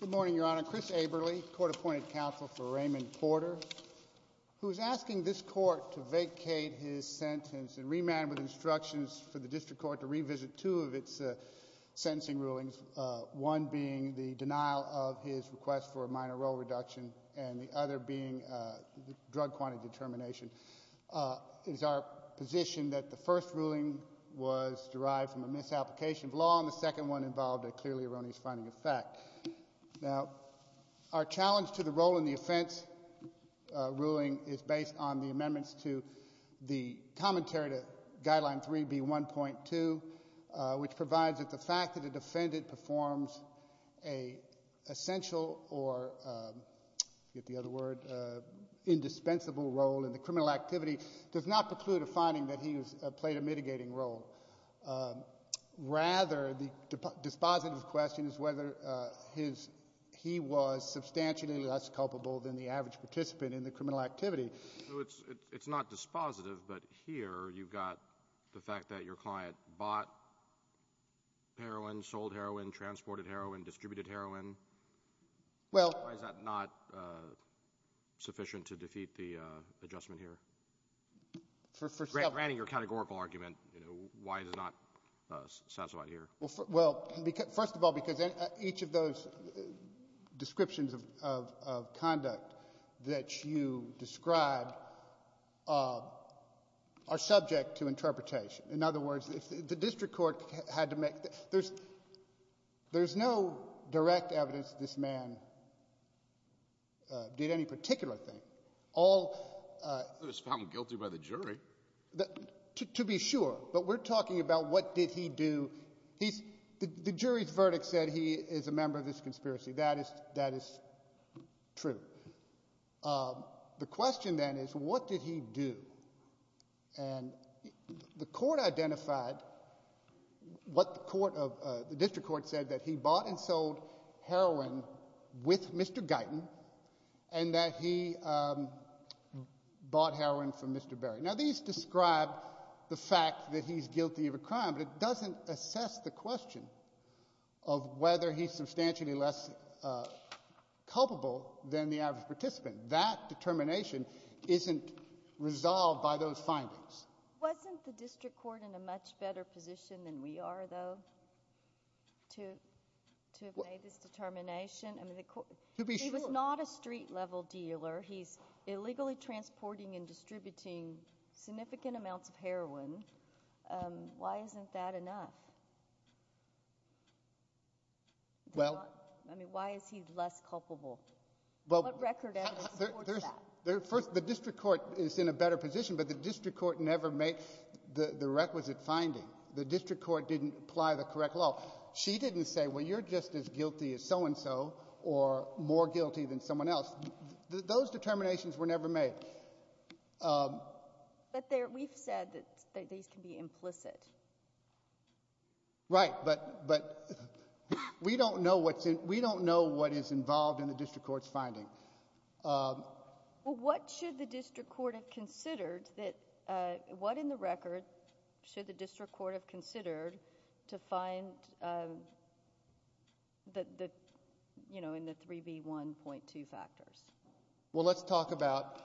Good morning, Your Honor. Chris Aberle, court-appointed counsel for Raymond Porter, who is asking this court to vacate his sentence and remand with instructions for the district court to revisit two of its sentencing rulings, one being the denial of his request for a minor role reduction and the other being drug quantity determination. It is our position that the ruling involved a clearly erroneous finding of fact. Now, our challenge to the role in the offense ruling is based on the amendments to the commentary to Guideline 3B1.2, which provides that the fact that a defendant performs an essential or, to get the other word, indispensable role in the criminal activity does not preclude a finding that he has played a mitigating role. Rather, the dispositive question is whether he was substantially less culpable than the average participant in the criminal activity. So it's not dispositive, but here you've got the fact that your client bought heroin, sold heroin, transported heroin, distributed heroin. Why is that not sufficient to defeat the adjustment here? Granting your categorical argument, you know, why does it not satisfy here? Well, first of all, because each of those descriptions of conduct that you describe are subject to interpretation. In other words, if the district court had to make, there's no direct evidence this man did any particular thing. I thought he was found guilty by the jury. To be sure, but we're talking about what did he do. The jury's verdict said he is a member of this conspiracy. That is true. The question then is, what did he do? And the court identified what the court of, the district court said, that he bought and sold heroin with Mr. Guyton and that he bought heroin from Mr. Berry. Now these describe the fact that he's guilty of a crime, but it doesn't assess the question of whether he's substantially less culpable than the average participant. That determination isn't resolved by those findings. Wasn't the district court in a much better position than we are, though, to have made this determination? To be sure. He was not a street level dealer. He's illegally transporting and distributing significant amounts of heroin. Why isn't that enough? Well. I mean, why is he less culpable? What record evidence supports that? The district court is in a better position, but the district court never makes the requisite finding. The district court didn't apply the correct law. She didn't say, well, you're just as guilty as so-and-so or more guilty than someone else. Those determinations were never made. But there, we've said that these can be implicit. Right, but we don't know what's in, we don't know what is involved in the district court's finding. Well, what should the district court have considered that, what in the record should the district court have considered to find the, you know, in the 3B1.2 factors? Well, let's talk about,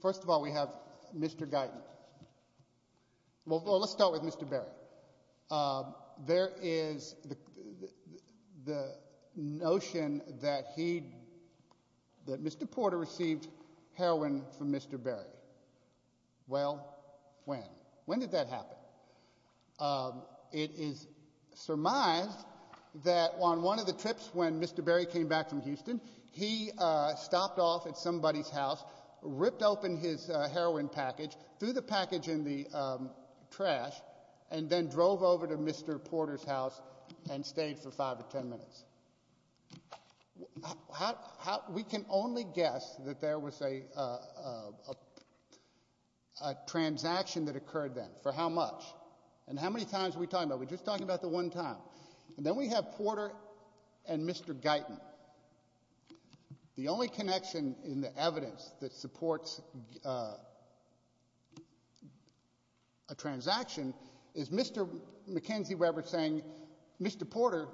first of all, we have Mr. Guyton. Well, let's start with Mr. Berry. There is the notion that he, that Mr. Porter received heroin from Mr. Berry. Well, when? When did that happen? It is surmised that on one of the trips when Mr. Berry came back from Houston, he stopped off at somebody's house, ripped open his heroin package, threw the package in the trash, and then drove over to Mr. Porter's house and stayed for five or ten minutes. How, how, we can only guess that there was a, a, a, a transaction that occurred then. For how much? And how many times are we talking about? We're just talking about the one time. And then we have Porter and Mr. Guyton. The only connection in the evidence that supports a transaction is Mr. McKenzie-Weber saying, Mr. Porter,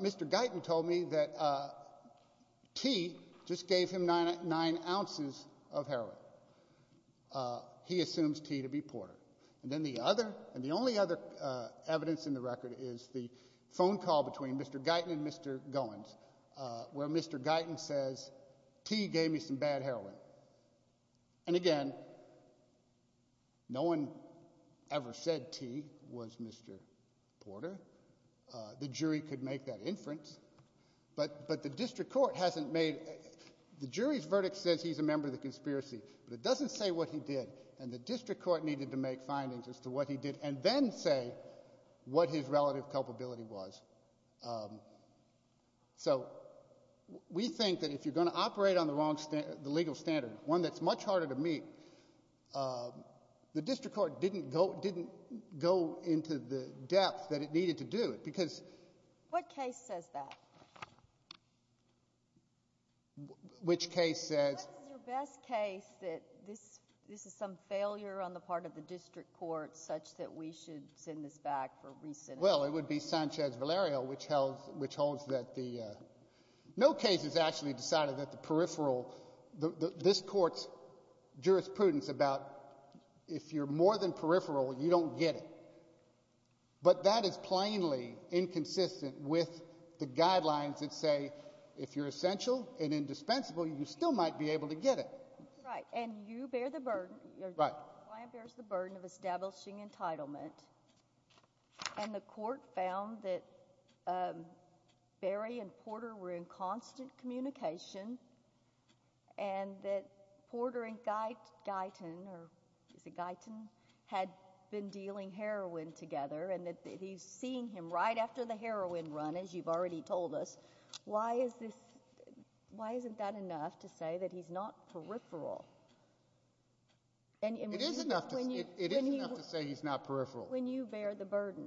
Mr. Guyton told me that T just gave him nine, nine ounces of heroin. He assumes T to be Porter. And then the other, and the only other evidence in the record is the phone call between Mr. Guyton and Mr. Goins, where Mr. Guyton says, T gave me some bad heroin. And again, no one ever said T was Mr. Porter. The jury could make that inference, but, but the district court hasn't made, the jury's verdict says he's a member of the conspiracy, but it doesn't say what he did. And the district court needed to make findings as to what he did, and then say what his relative culpability was. So we think that if you're going to operate on the wrong, the legal standard, one that's much harder to meet, the district court didn't go, didn't go into the depth that it needed to do it, because. What case says that? Which case says? What's your best case that this, this is some failure on the part of the district court such that we should send this back for re-sentencing? Well, it would be Sanchez-Valerio, which held, which holds that the, no case has actually decided that the peripheral, this court's jurisprudence about if you're more than peripheral, you don't get it. But that is plainly inconsistent with the guidelines that say, if you're essential and indispensable, you still might be able to get it. Right. And you bear the burden, your client bears the burden of establishing entitlement, and the court found that Berry and Porter were in constant communication, and that Porter and Guyton, or is it Guyton, had been dealing heroin together, and that he's seeing him right after the heroin run, as you've already told us. Why is this, why he's not peripheral? When you bear the burden.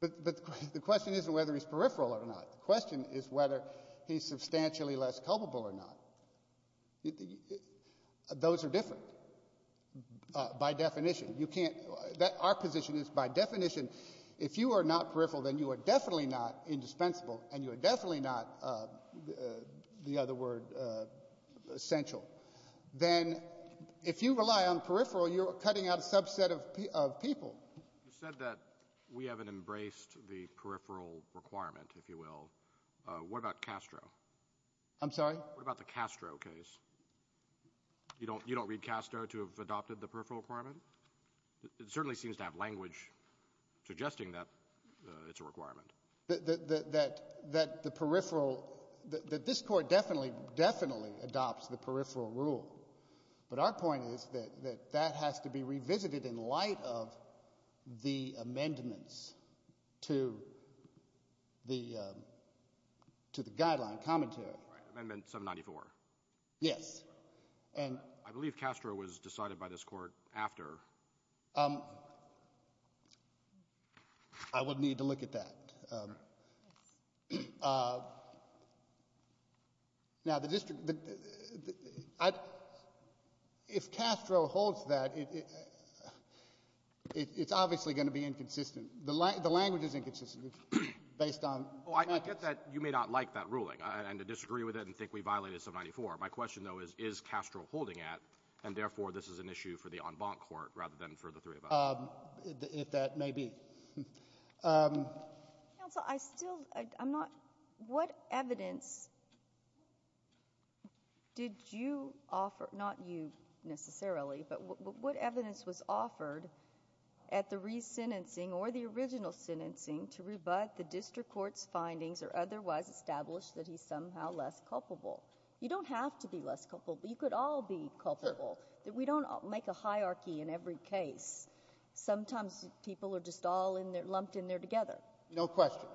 But, but the question isn't whether he's peripheral or not. The question is whether he's substantially less culpable or not. Those are different, by definition. You can't, that, our position is, by definition, if you are not peripheral, then you are definitely not indispensable, and you are definitely not, the, the other word, essential. Then, if you rely on peripheral, you're cutting out a subset of, of people. You said that we haven't embraced the peripheral requirement, if you will. What about Castro? I'm sorry? What about the Castro case? You don't, you don't read Castro to have adopted the peripheral requirement? It certainly seems to have language suggesting that it's a requirement. That, that, that, that the peripheral, that this Court definitely, definitely adopts the peripheral rule. But our point is that, that that has to be revisited in light of the amendments to the, to the guideline commentary. Amendment 794. Yes. And. I believe Castro was decided by this Court after. I would need to look at that. Now, the district, the, the, I, if Castro holds that, it, it, it's obviously going to be inconsistent. The, the language is inconsistent, based on. Oh, I get that you may not like that ruling, and to disagree with it and think we issue for the en banc court rather than for the three of us. If that may be. Counsel, I still, I, I'm not, what evidence did you offer, not you necessarily, but what, what evidence was offered at the re-sentencing or the original sentencing to rebut the district court's findings or otherwise establish that he's somehow less culpable? You don't have to be less culpable. You could all be culpable. We don't make a hierarchy in every case. Sometimes people are just all in there, lumped in there together. No question.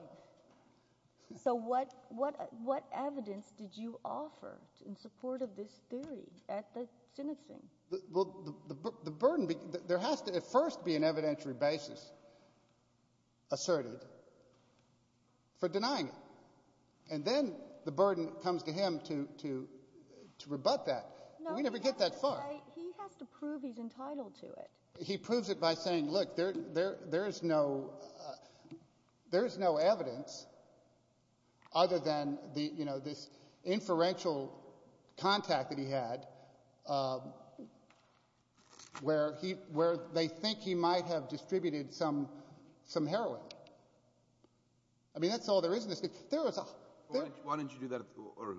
So what, what, what evidence did you offer in support of this theory at the sentencing? Well, the, the, the burden, there has to at first be an evidentiary basis asserted for denying it. And then the burden comes to him to, to, to rebut that. We never get that far. He has to prove he's entitled to it. He proves it by saying, look, there, there, there is no, there is no evidence other than the, you know, this inferential contact that he had, where he, where they think he might have distributed some, some heroin. I mean, that's all there is in this case. There was a... Why didn't you do that, or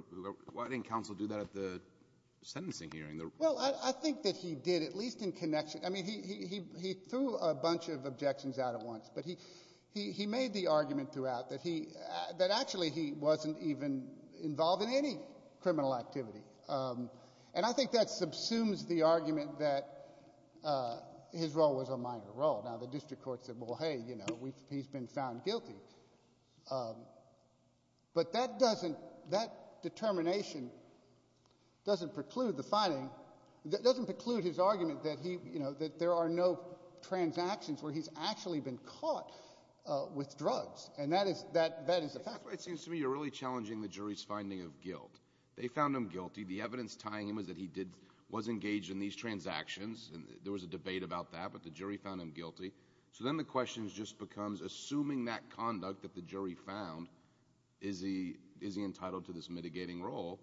why didn't counsel do that at the sentencing hearing? Well, I, I think that he did, at least in connection, I mean, he, he, he, he threw a bunch of objections out at once, but he, he, he made the argument throughout that he, that actually he wasn't even involved in any criminal activity. And I think that subsumes the argument that his role was a minor role. Now, the district court said, well, hey, you know, we, he's been found guilty. But that doesn't, that determination doesn't preclude the finding, doesn't preclude his argument that he, you know, that there are no transactions where he's actually been caught with drugs. And that is, that, that is a fact. It seems to me you're really challenging the jury's finding of guilt. They found him guilty. The evidence tying him is that he did, was engaged in these transactions. And there was a debate about that, but the jury found him guilty. So then the question just becomes, assuming that conduct that the jury found, is he, is he entitled to this mitigating role?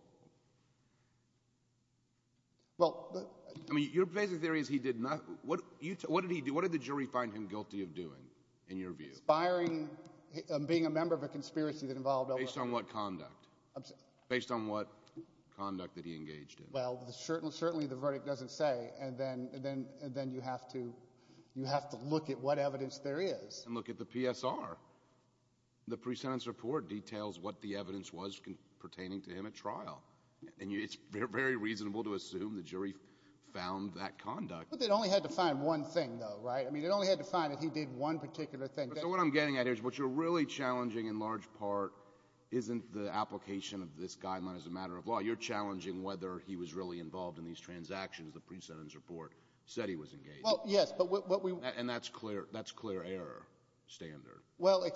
Well, I mean, your basic theory is he did not, what, you, what did he do, what did the jury find him guilty of doing, in your view? Aspiring, being a member of a conspiracy that involved... Based on what conduct? I'm sorry. Based on what conduct that he engaged in? Well, certainly, certainly the verdict doesn't say, and then, and then you have to, you have to look at what evidence there is. And look at the PSR. The pre-sentence report details what the evidence was pertaining to him at trial. And you, it's very reasonable to assume the jury found that conduct. But they'd only had to find one thing though, right? I mean, they'd only had to find that he did one particular thing. So what I'm getting at here is what you're really challenging in large part isn't the application of this guideline as a matter of law. You're challenging whether he was really involved in these transactions, the pre-sentence report said he was engaged. Well, yes, but what we... And that's clear, that's clear error standard. Well,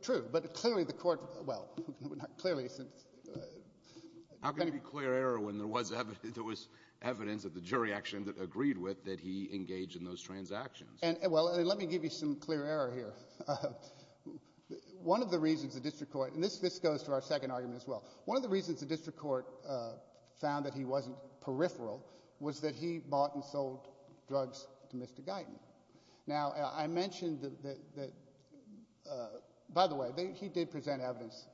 true, but clearly the court, well, clearly... How can it be clear error when there was evidence, there was evidence that the jury actually agreed with that he engaged in those transactions? And, well, let me give you some clear error here. One of the reasons the district court, and this, this goes to our second argument as well. One of the reasons the district court found that he wasn't peripheral was that he bought and sold drugs to Mr. Guyton. Now, I mentioned that, by the way, he did present evidence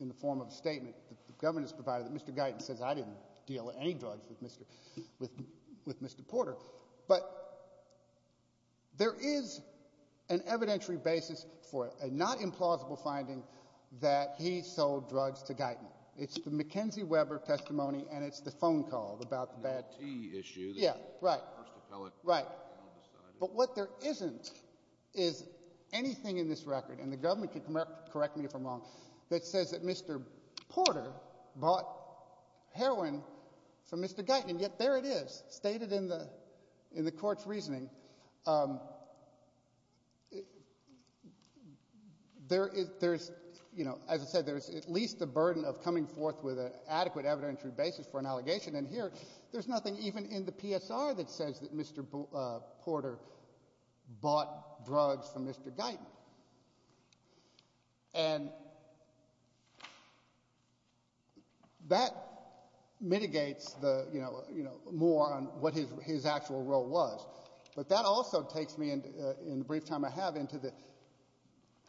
in the form of a statement that the government has provided that Mr. Guyton says, I didn't deal in any drugs with Mr. Porter. But there is an evidentiary basis for a not implausible finding that he sold drugs to Guyton. It's the McKenzie-Weber testimony and it's the phone call about the bad tea issue. Yeah, right, right. But what there isn't is anything in this record, and the government can correct me if I'm wrong, that says that Mr. Porter bought heroin from Mr. Guyton, and yet there it is, stated in the, in the court's reasoning. There is, there's, you know, as I said, there's at least a burden of coming forth with an adequate evidentiary basis for an allegation, and here there's nothing even in the PSR that says that Mr. Porter bought drugs from Mr. Guyton. And that mitigates the, you know, you know, more on what his, his actual role was. But that also takes me into, in the brief time I have, into the,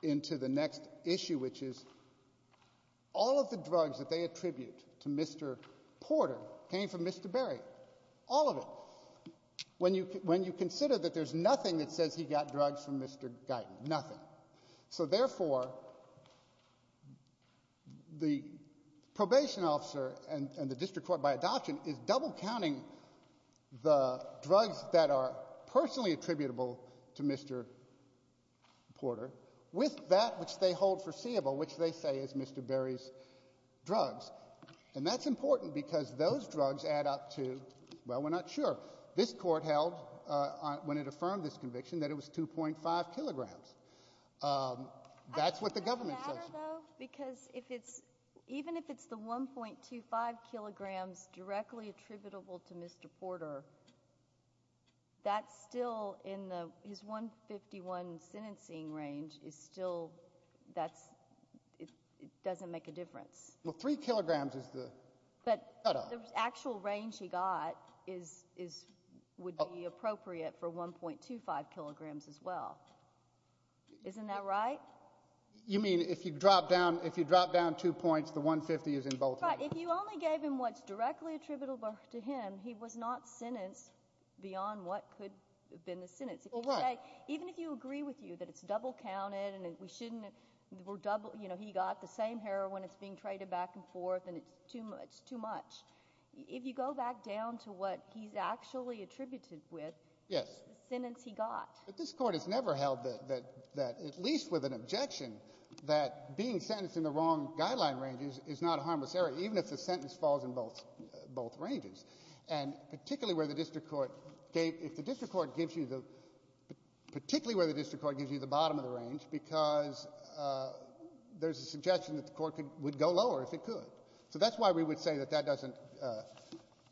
into the next issue, which is all of the drugs that they attribute to Mr. Porter came from Mr. Berry. All of it. When you, when you consider that there's nothing that says he got drugs from Mr. Guyton, nothing. So, therefore, the probation officer and the district court by adoption is double counting the drugs that are personally attributable to Mr. Porter, with that which they hold foreseeable, which they say is Mr. Berry's drugs. And that's important, because those drugs add up to, well, we're not sure. This court held, when it affirmed this conviction, that it was 2.5 kilograms. That's what the government says. Because if it's, even if it's the 1.25 kilograms directly attributable to Mr. Porter, that's still in the, his 151 sentencing range is still, that's, it doesn't make a difference. Well, three kilograms is the cutoff. But the actual range he got was 2.5 kilograms. Well, isn't that right? You mean if you drop down, if you drop down two points, the 150 is in both hands. Right. If you only gave him what's directly attributable to him, he was not sentenced beyond what could have been the sentence. Even if you agree with you that it's double counted, and we shouldn't, we're double, you know, he got the same heroin, it's being traded back and forth, and it's too much, too much. If you go back down to what he's actually attributed with, the sentence he got. But this Court has never held that at least with an objection, that being sentenced in the wrong guideline range is not a harmless error, even if the sentence falls in both ranges. And particularly where the district court gave, if the district court gives you the, particularly where the district court gives you the bottom of the range, because there's a suggestion that the court would go lower if it could. So that's why we would say that that doesn't,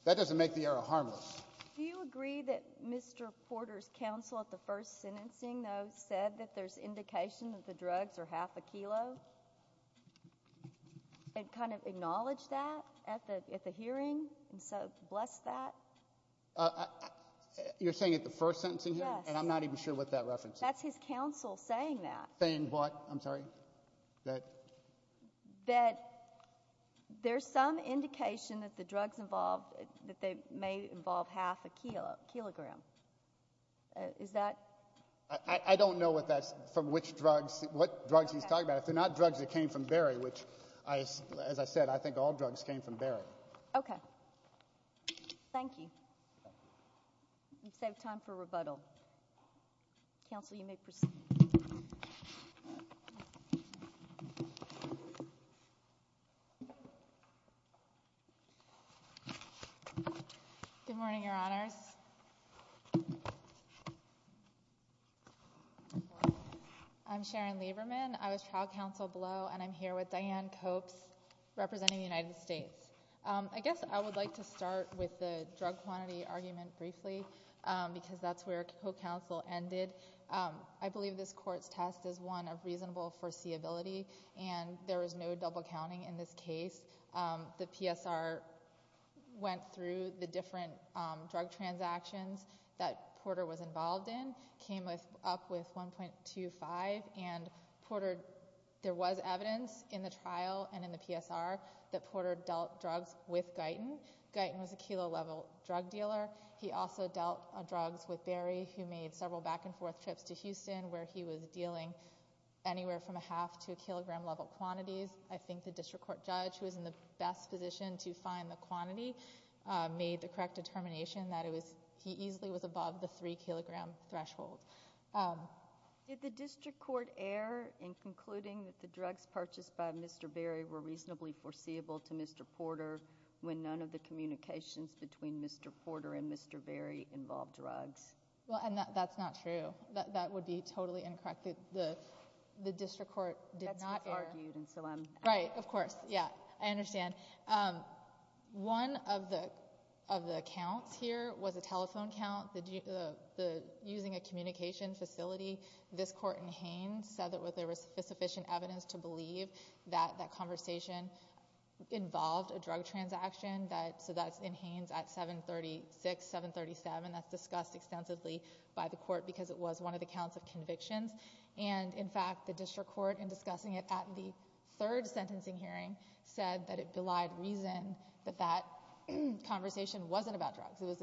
that doesn't make the error harmless. Do you agree that Mr. Porter's counsel at the first sentencing, though, said that there's indication that the drugs are half a kilo? And kind of acknowledge that at the, at the hearing, and so bless that? You're saying at the first sentencing hearing? Yes. And I'm not even sure what that reference is. That's his counsel saying that. Saying what, I'm sorry? That there's some indication that the drugs involved, that they may involve half a kilo, kilogram. Is that? I don't know what that's, from which drugs, what drugs he's talking about. If they're not drugs that came from Barry, which I, as I said, I think all of us know, I'm not sure. Good morning, Your Honors. I'm Sharon Lieberman. I was trial counsel below, and I'm here with Diane Copes, representing the United States. I guess I would like to start with the drug quantity argument briefly, because that's where co-counsel ended. I believe this court's test is one of reasonable foreseeability, and there is no double counting in this case. The PSR went through the different drug transactions that Porter was involved in, came with, up with 1.25, and Porter, there was evidence in the trial and in the PSR that Porter dealt drugs with Guyton. Guyton was a kilo level drug dealer. He also dealt drugs with Barry, who made several back and forth trips to Houston, where he was dealing anywhere from a half to a kilogram level quantities. I think the district court judge, who was in the best position to find the quantity, made the correct determination that it was, he easily was above the three kilogram threshold. Did the district court err in concluding that the drugs purchased by Mr. Barry were reasonably foreseeable to Mr. Porter when none of the communications between Mr. Porter and Mr. Barry involved drugs? Well, and that's not true. That would be totally incorrect. The district court did not err. That's what's argued, and so I'm... Right, of course. Yeah, I understand. One of the counts here was a telephone count, using a communication facility. This court in Haines said that there was sufficient evidence to believe that that conversation involved a drug transaction. So that's in Haines at 736, 737. That's discussed extensively by the court because it was one of the counts of convictions, and in fact, the district court, in discussing it at the third sentencing hearing, said that it belied reason that that conversation wasn't about drugs.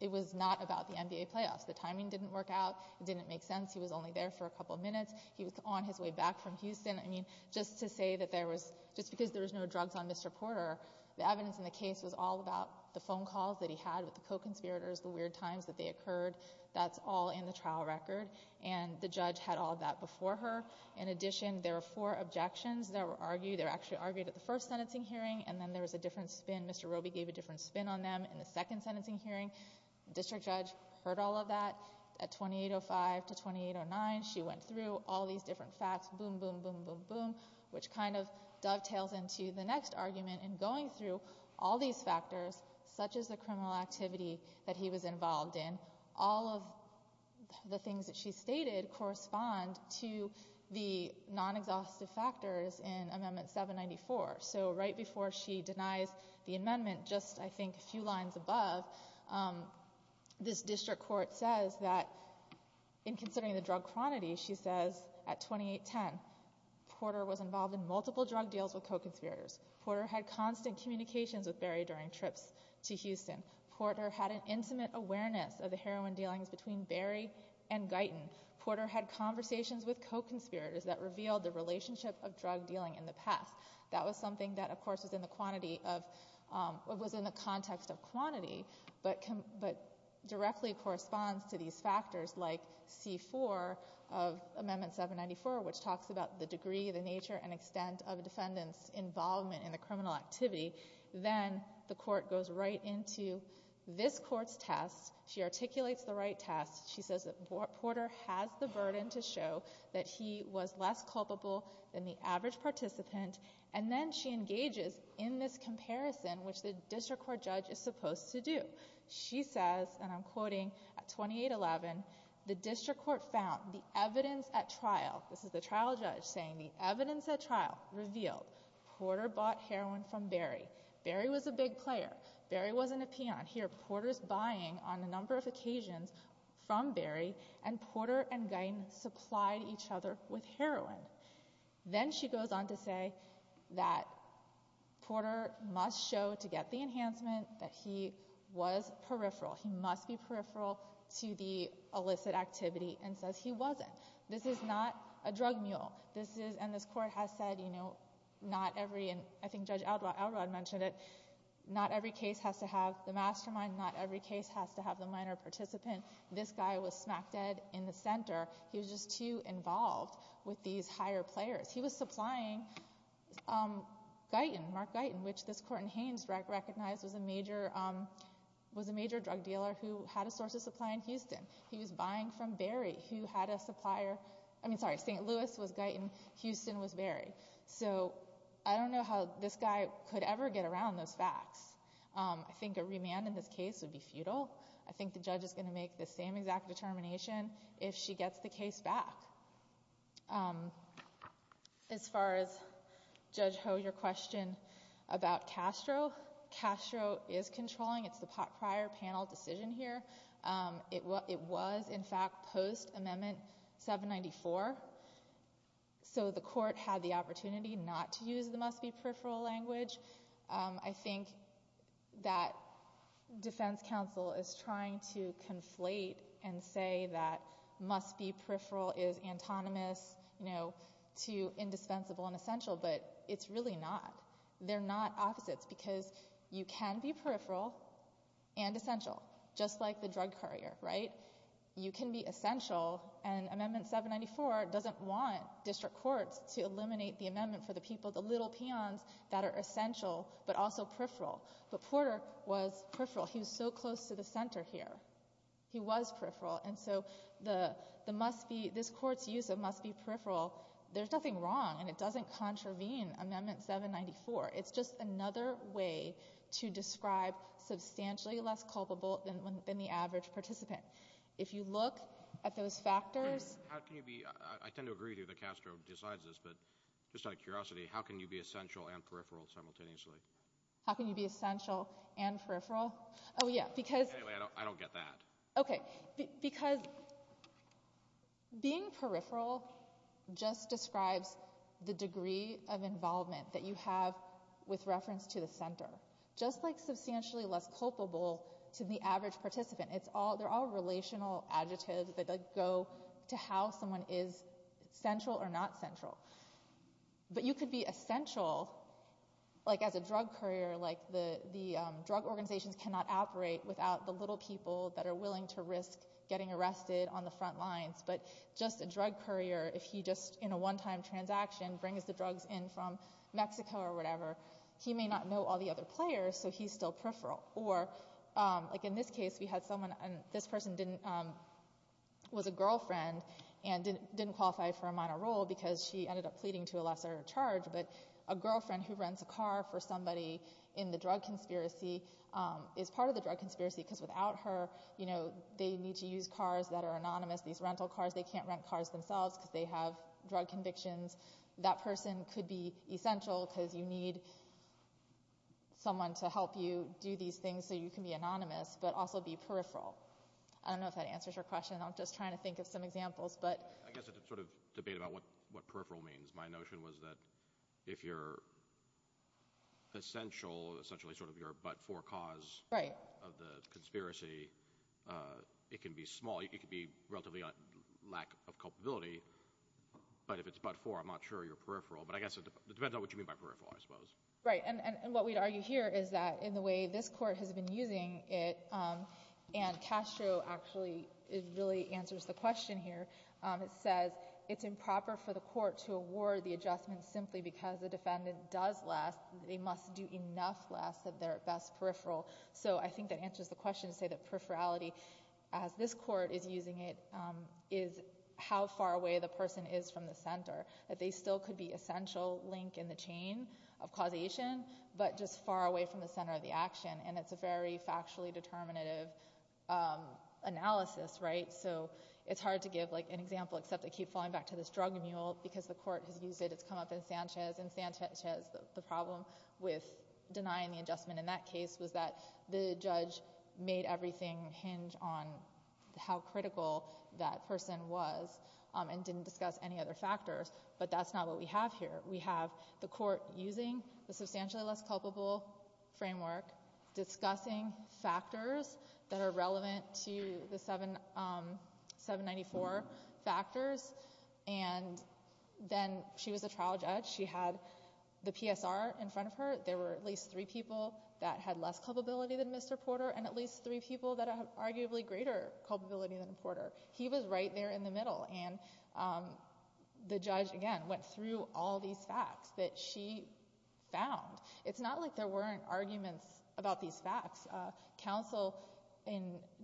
It was not about the NBA playoffs. The timing didn't work out. It didn't make sense. He was only there for a couple minutes. He was on his way back from Houston. I mean, just to say that there was, just because there was no drugs on Mr. Porter, the evidence in the case was all about the phone calls that he had with the co-conspirators, the weird times that they occurred. That's all in the trial record, and the judge had all of that before her. In addition, there were four objections that were argued. They were actually argued at the first sentencing hearing, and then there was a different spin. Mr. Roby gave a different spin on them in the second sentencing hearing. The district judge heard all of that. At 2805 to 2809, she went through all these different facts, boom, boom, boom, boom, boom, which kind of dovetails into the next argument in going through all these factors, such as the criminal activity that he was involved in. All of the things that she stated correspond to the non-exhaustive factors in Amendment 794. So right before she denies the amendment, just, I think, a few lines above, this district court says that in considering the drug quantity, she says at 2810, Porter was involved in multiple drug deals with co-conspirators. Porter had constant communications with Barry during trips to Houston. Porter had an intimate awareness of the heroin dealings between Barry and Guyton. Porter had conversations with co-conspirators that revealed the relationship of drug dealing in the past. That was something that, of course, was in the quantity of, was in the context of quantity, but directly corresponds to these factors, like C4 of Amendment 794, which talks about the degree, the nature, and extent of a defendant's involvement in the criminal activity. Then the court goes right into this court's test. She articulates the right test. She says that Porter has the burden to show that he was less culpable than the average participant, and then she engages in this She says, and I'm quoting, at 2811, the district court found the evidence at trial, this is the trial judge saying, the evidence at trial revealed Porter bought heroin from Barry. Barry was a big player. Barry wasn't a peon. Here, Porter's buying on a number of occasions from Barry, and Porter and Guyton supplied each other with heroin. Then she goes on to say that Porter must show to get the enhancement that he was peripheral. He must be peripheral to the illicit activity, and says he wasn't. This is not a drug mule. This is, and this court has said, you know, not every, and I think Judge Elrod mentioned it, not every case has to have the mastermind. Not every case has to have the minor participant. This guy was smack dead in the center. He was just too involved with these higher players. He was supplying Guyton, Mark Guyton, which this court in Haines recognized was a major was a major drug dealer who had a source of supply in Houston. He was buying from Barry, who had a supplier, I mean, sorry, St. Louis was Guyton, Houston was Barry. So I don't know how this guy could ever get around those facts. I think a remand in this case would be futile. I think the judge is going to make the same exact determination if she gets the case back. As far as Judge Ho, your question about Castro, Castro is controlling. It's the prior panel decision here. It was, in fact, post amendment 794. So the court had the opportunity not to use the must-be peripheral language. I think that defense counsel is trying to conflate and say that must-be peripheral is antonymous, you know, to indispensable and essential, but it's really not. They're not opposites because you can be peripheral and essential, just like the drug courier, right? You can be essential and amendment 794 doesn't want district courts to eliminate the amendment for the people, the little peons that are essential, but also peripheral. But Porter was peripheral. He was so close to the center here. He was peripheral. And so the must-be, this court's use of must-be peripheral, there's nothing wrong and it doesn't contravene amendment 794. It's just another way to describe substantially less culpable than the average participant. If you look at those factors. How can you be, I tend to agree that Castro decides this, but just out of curiosity, how can you be essential and peripheral simultaneously? How can you be essential and peripheral? Oh yeah, because. Anyway, I don't get that. Okay, because being peripheral just describes the degree of involvement that you have with reference to the center, just like substantially less culpable to the average participant. It's all, they're all but you could be essential, like as a drug courier, like the the drug organizations cannot operate without the little people that are willing to risk getting arrested on the front lines. But just a drug courier, if he just in a one-time transaction brings the drugs in from Mexico or whatever, he may not know all the other players, so he's still peripheral. Or like in this case, we had someone and this person didn't, was a girlfriend and didn't qualify for a minor role because she ended up pleading to a lesser charge, but a girlfriend who rents a car for somebody in the drug conspiracy is part of the drug conspiracy because without her, you know, they need to use cars that are anonymous. These rental cars, they can't rent cars themselves because they have drug convictions. That person could be essential because you need someone to help you do these things so you can be anonymous, but also be peripheral. I don't know if that answers your question. I'm just trying to think of some examples, but I guess it's a sort of debate about what peripheral means. My notion was that if you're essential, essentially sort of your but-for cause of the conspiracy, it can be small. It could be relatively on lack of culpability, but if it's but-for, I'm not sure you're peripheral, but I guess it depends on what you mean by peripheral, I suppose. Right, and what we'd argue here is that in the way this court has been using it, and Castro actually, it really answers the question here. It says it's improper for the court to award the adjustment simply because the defendant does less. They must do enough less of their best peripheral, so I think that answers the question to say that peripherality, as this court is using it, is how far away the person is from the center. That they still could be essential link in the chain of causation, but just far away from the center of the action, and it's a very factually determinative analysis, right? So it's hard to give an example, except I keep falling back to this drug mule, because the court has used it. It's come up in Sanchez, and Sanchez, the problem with denying the adjustment in that case was that the judge made everything hinge on how critical that person was and didn't discuss any other factors, but that's not what we have here. We have the court using the substantially less culpable framework, discussing factors that are relevant to the 794 factors, and then she was a trial judge. She had the PSR in front of her. There were at least three people that had less culpability than Mr. Porter, and at least three people that have arguably greater culpability than Porter. He was right there in the middle, and the judge, again, went through all these facts that she found. It's not like there weren't arguments about these facts.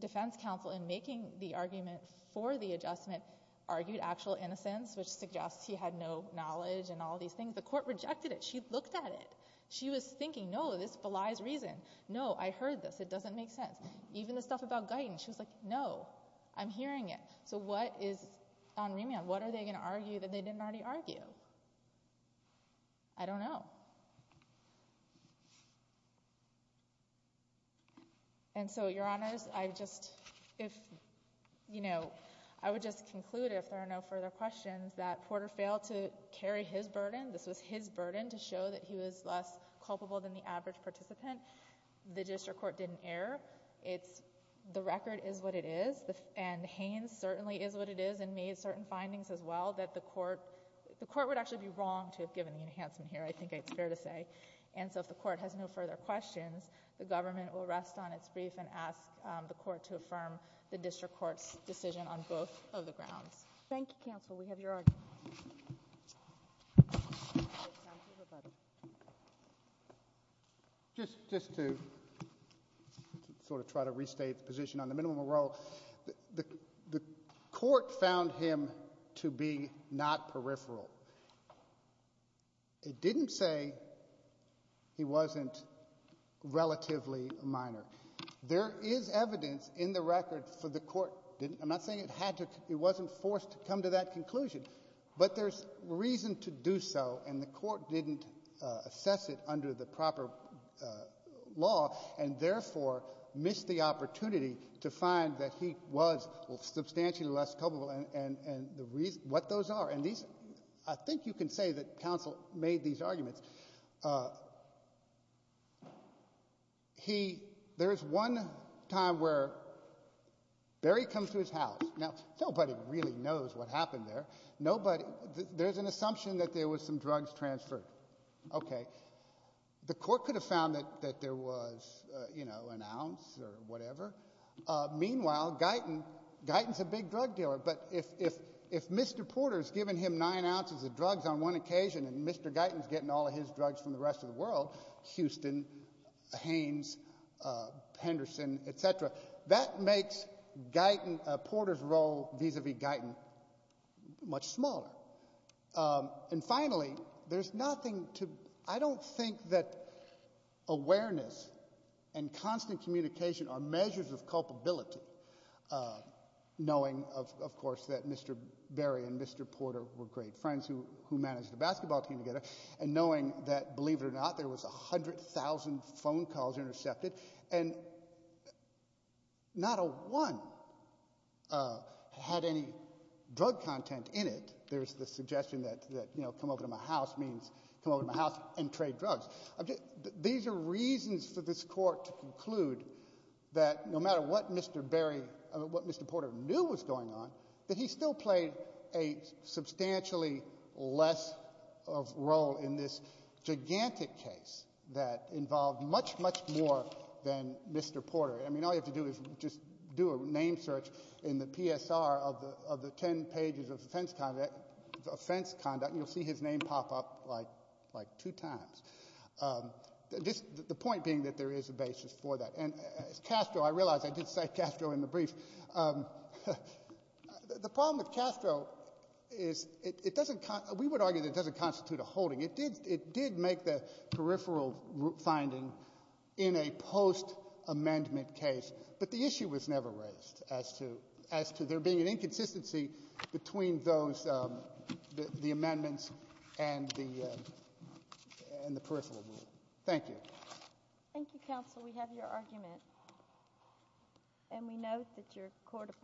Defense counsel, in making the argument for the adjustment, argued actual innocence, which suggests he had no knowledge and all these things. The court rejected it. She looked at it. She was thinking, no, this belies reason. No, I heard this. It doesn't make sense. Even the stuff about guidance. She was like, no, I'm hearing it. So what is on remand? What are they going to argue that they didn't already argue? I don't know. And so, your honors, I just, if, you know, I would just conclude, if there are no further questions, that Porter failed to carry his burden. This was his burden to show that he was less culpable than the average participant. The district court didn't err. It's, the record is what it is, and Haines certainly is what it is, and made certain findings as well, that the court, the court would actually be wrong to have given the enhancement here, I think it's fair to say. And so, if the court has no further questions, the government will rest on its brief and ask the court to affirm the district court's decision on both of the grounds. Thank you, counsel. We have your argument. Just, just to sort of try to restate the position on the minimum parole, the, the court found him to be not peripheral. It didn't say he wasn't relatively a minor. There is evidence in the record for the court didn't, I'm not saying it had to, it wasn't forced to come to that conclusion, but there's reason to do so, and the court didn't assess it under the proper law, and therefore missed the opportunity to find that he was substantially less culpable, and, and the reason, what those are, and these, I think you can say that counsel made these arguments. He, there's one time where Barry comes to his house. Now, nobody really knows what happened there. Nobody, there's an assumption that there was some drugs transferred. Okay. The court could have found that, that there was, you know, an ounce or whatever. Meanwhile, Guyton, Guyton's a big drug dealer, but if, if, if Mr. Porter's given him nine ounces of drugs on one occasion, and Mr. Guyton's getting all of his drugs from the rest of the world, Houston, Haines, Henderson, et cetera, that makes Guyton, Porter's role vis-a-vis Guyton much smaller, and finally, there's nothing to, I don't think that awareness and constant communication are measures of culpability, knowing of, of course, that Mr. Barry and Mr. Porter were great friends who, who managed the basketball team together, and knowing that, believe it or not, there was a hundred thousand phone calls intercepted, and not a one had any drug content in it. There's the suggestion that, that, you know, come over to my house means, come over to my house and trade drugs. These are reasons for this court to conclude that no matter what Mr. Barry, what Mr. Porter knew was going on, that he still played a substantially less of role in this gigantic case that involved much, much more than Mr. Porter. I mean, all you have to do is just do a name search in the PSR of the, of the ten pages of offense conduct, offense conduct, and you'll see his name pop up like, like two times. This, the point being that there is a basis for that, and Castro, I realize I did say Castro in the brief. The problem with Castro is it doesn't, we would argue that it doesn't constitute a holding. It did, it did make the peripheral finding in a post-amendment case, but the issue was never raised as to, as to there being an inconsistency between those, the amendments and the, and the peripheral rule. Thank you. Thank you, counsel. We have your argument, and we know that your court.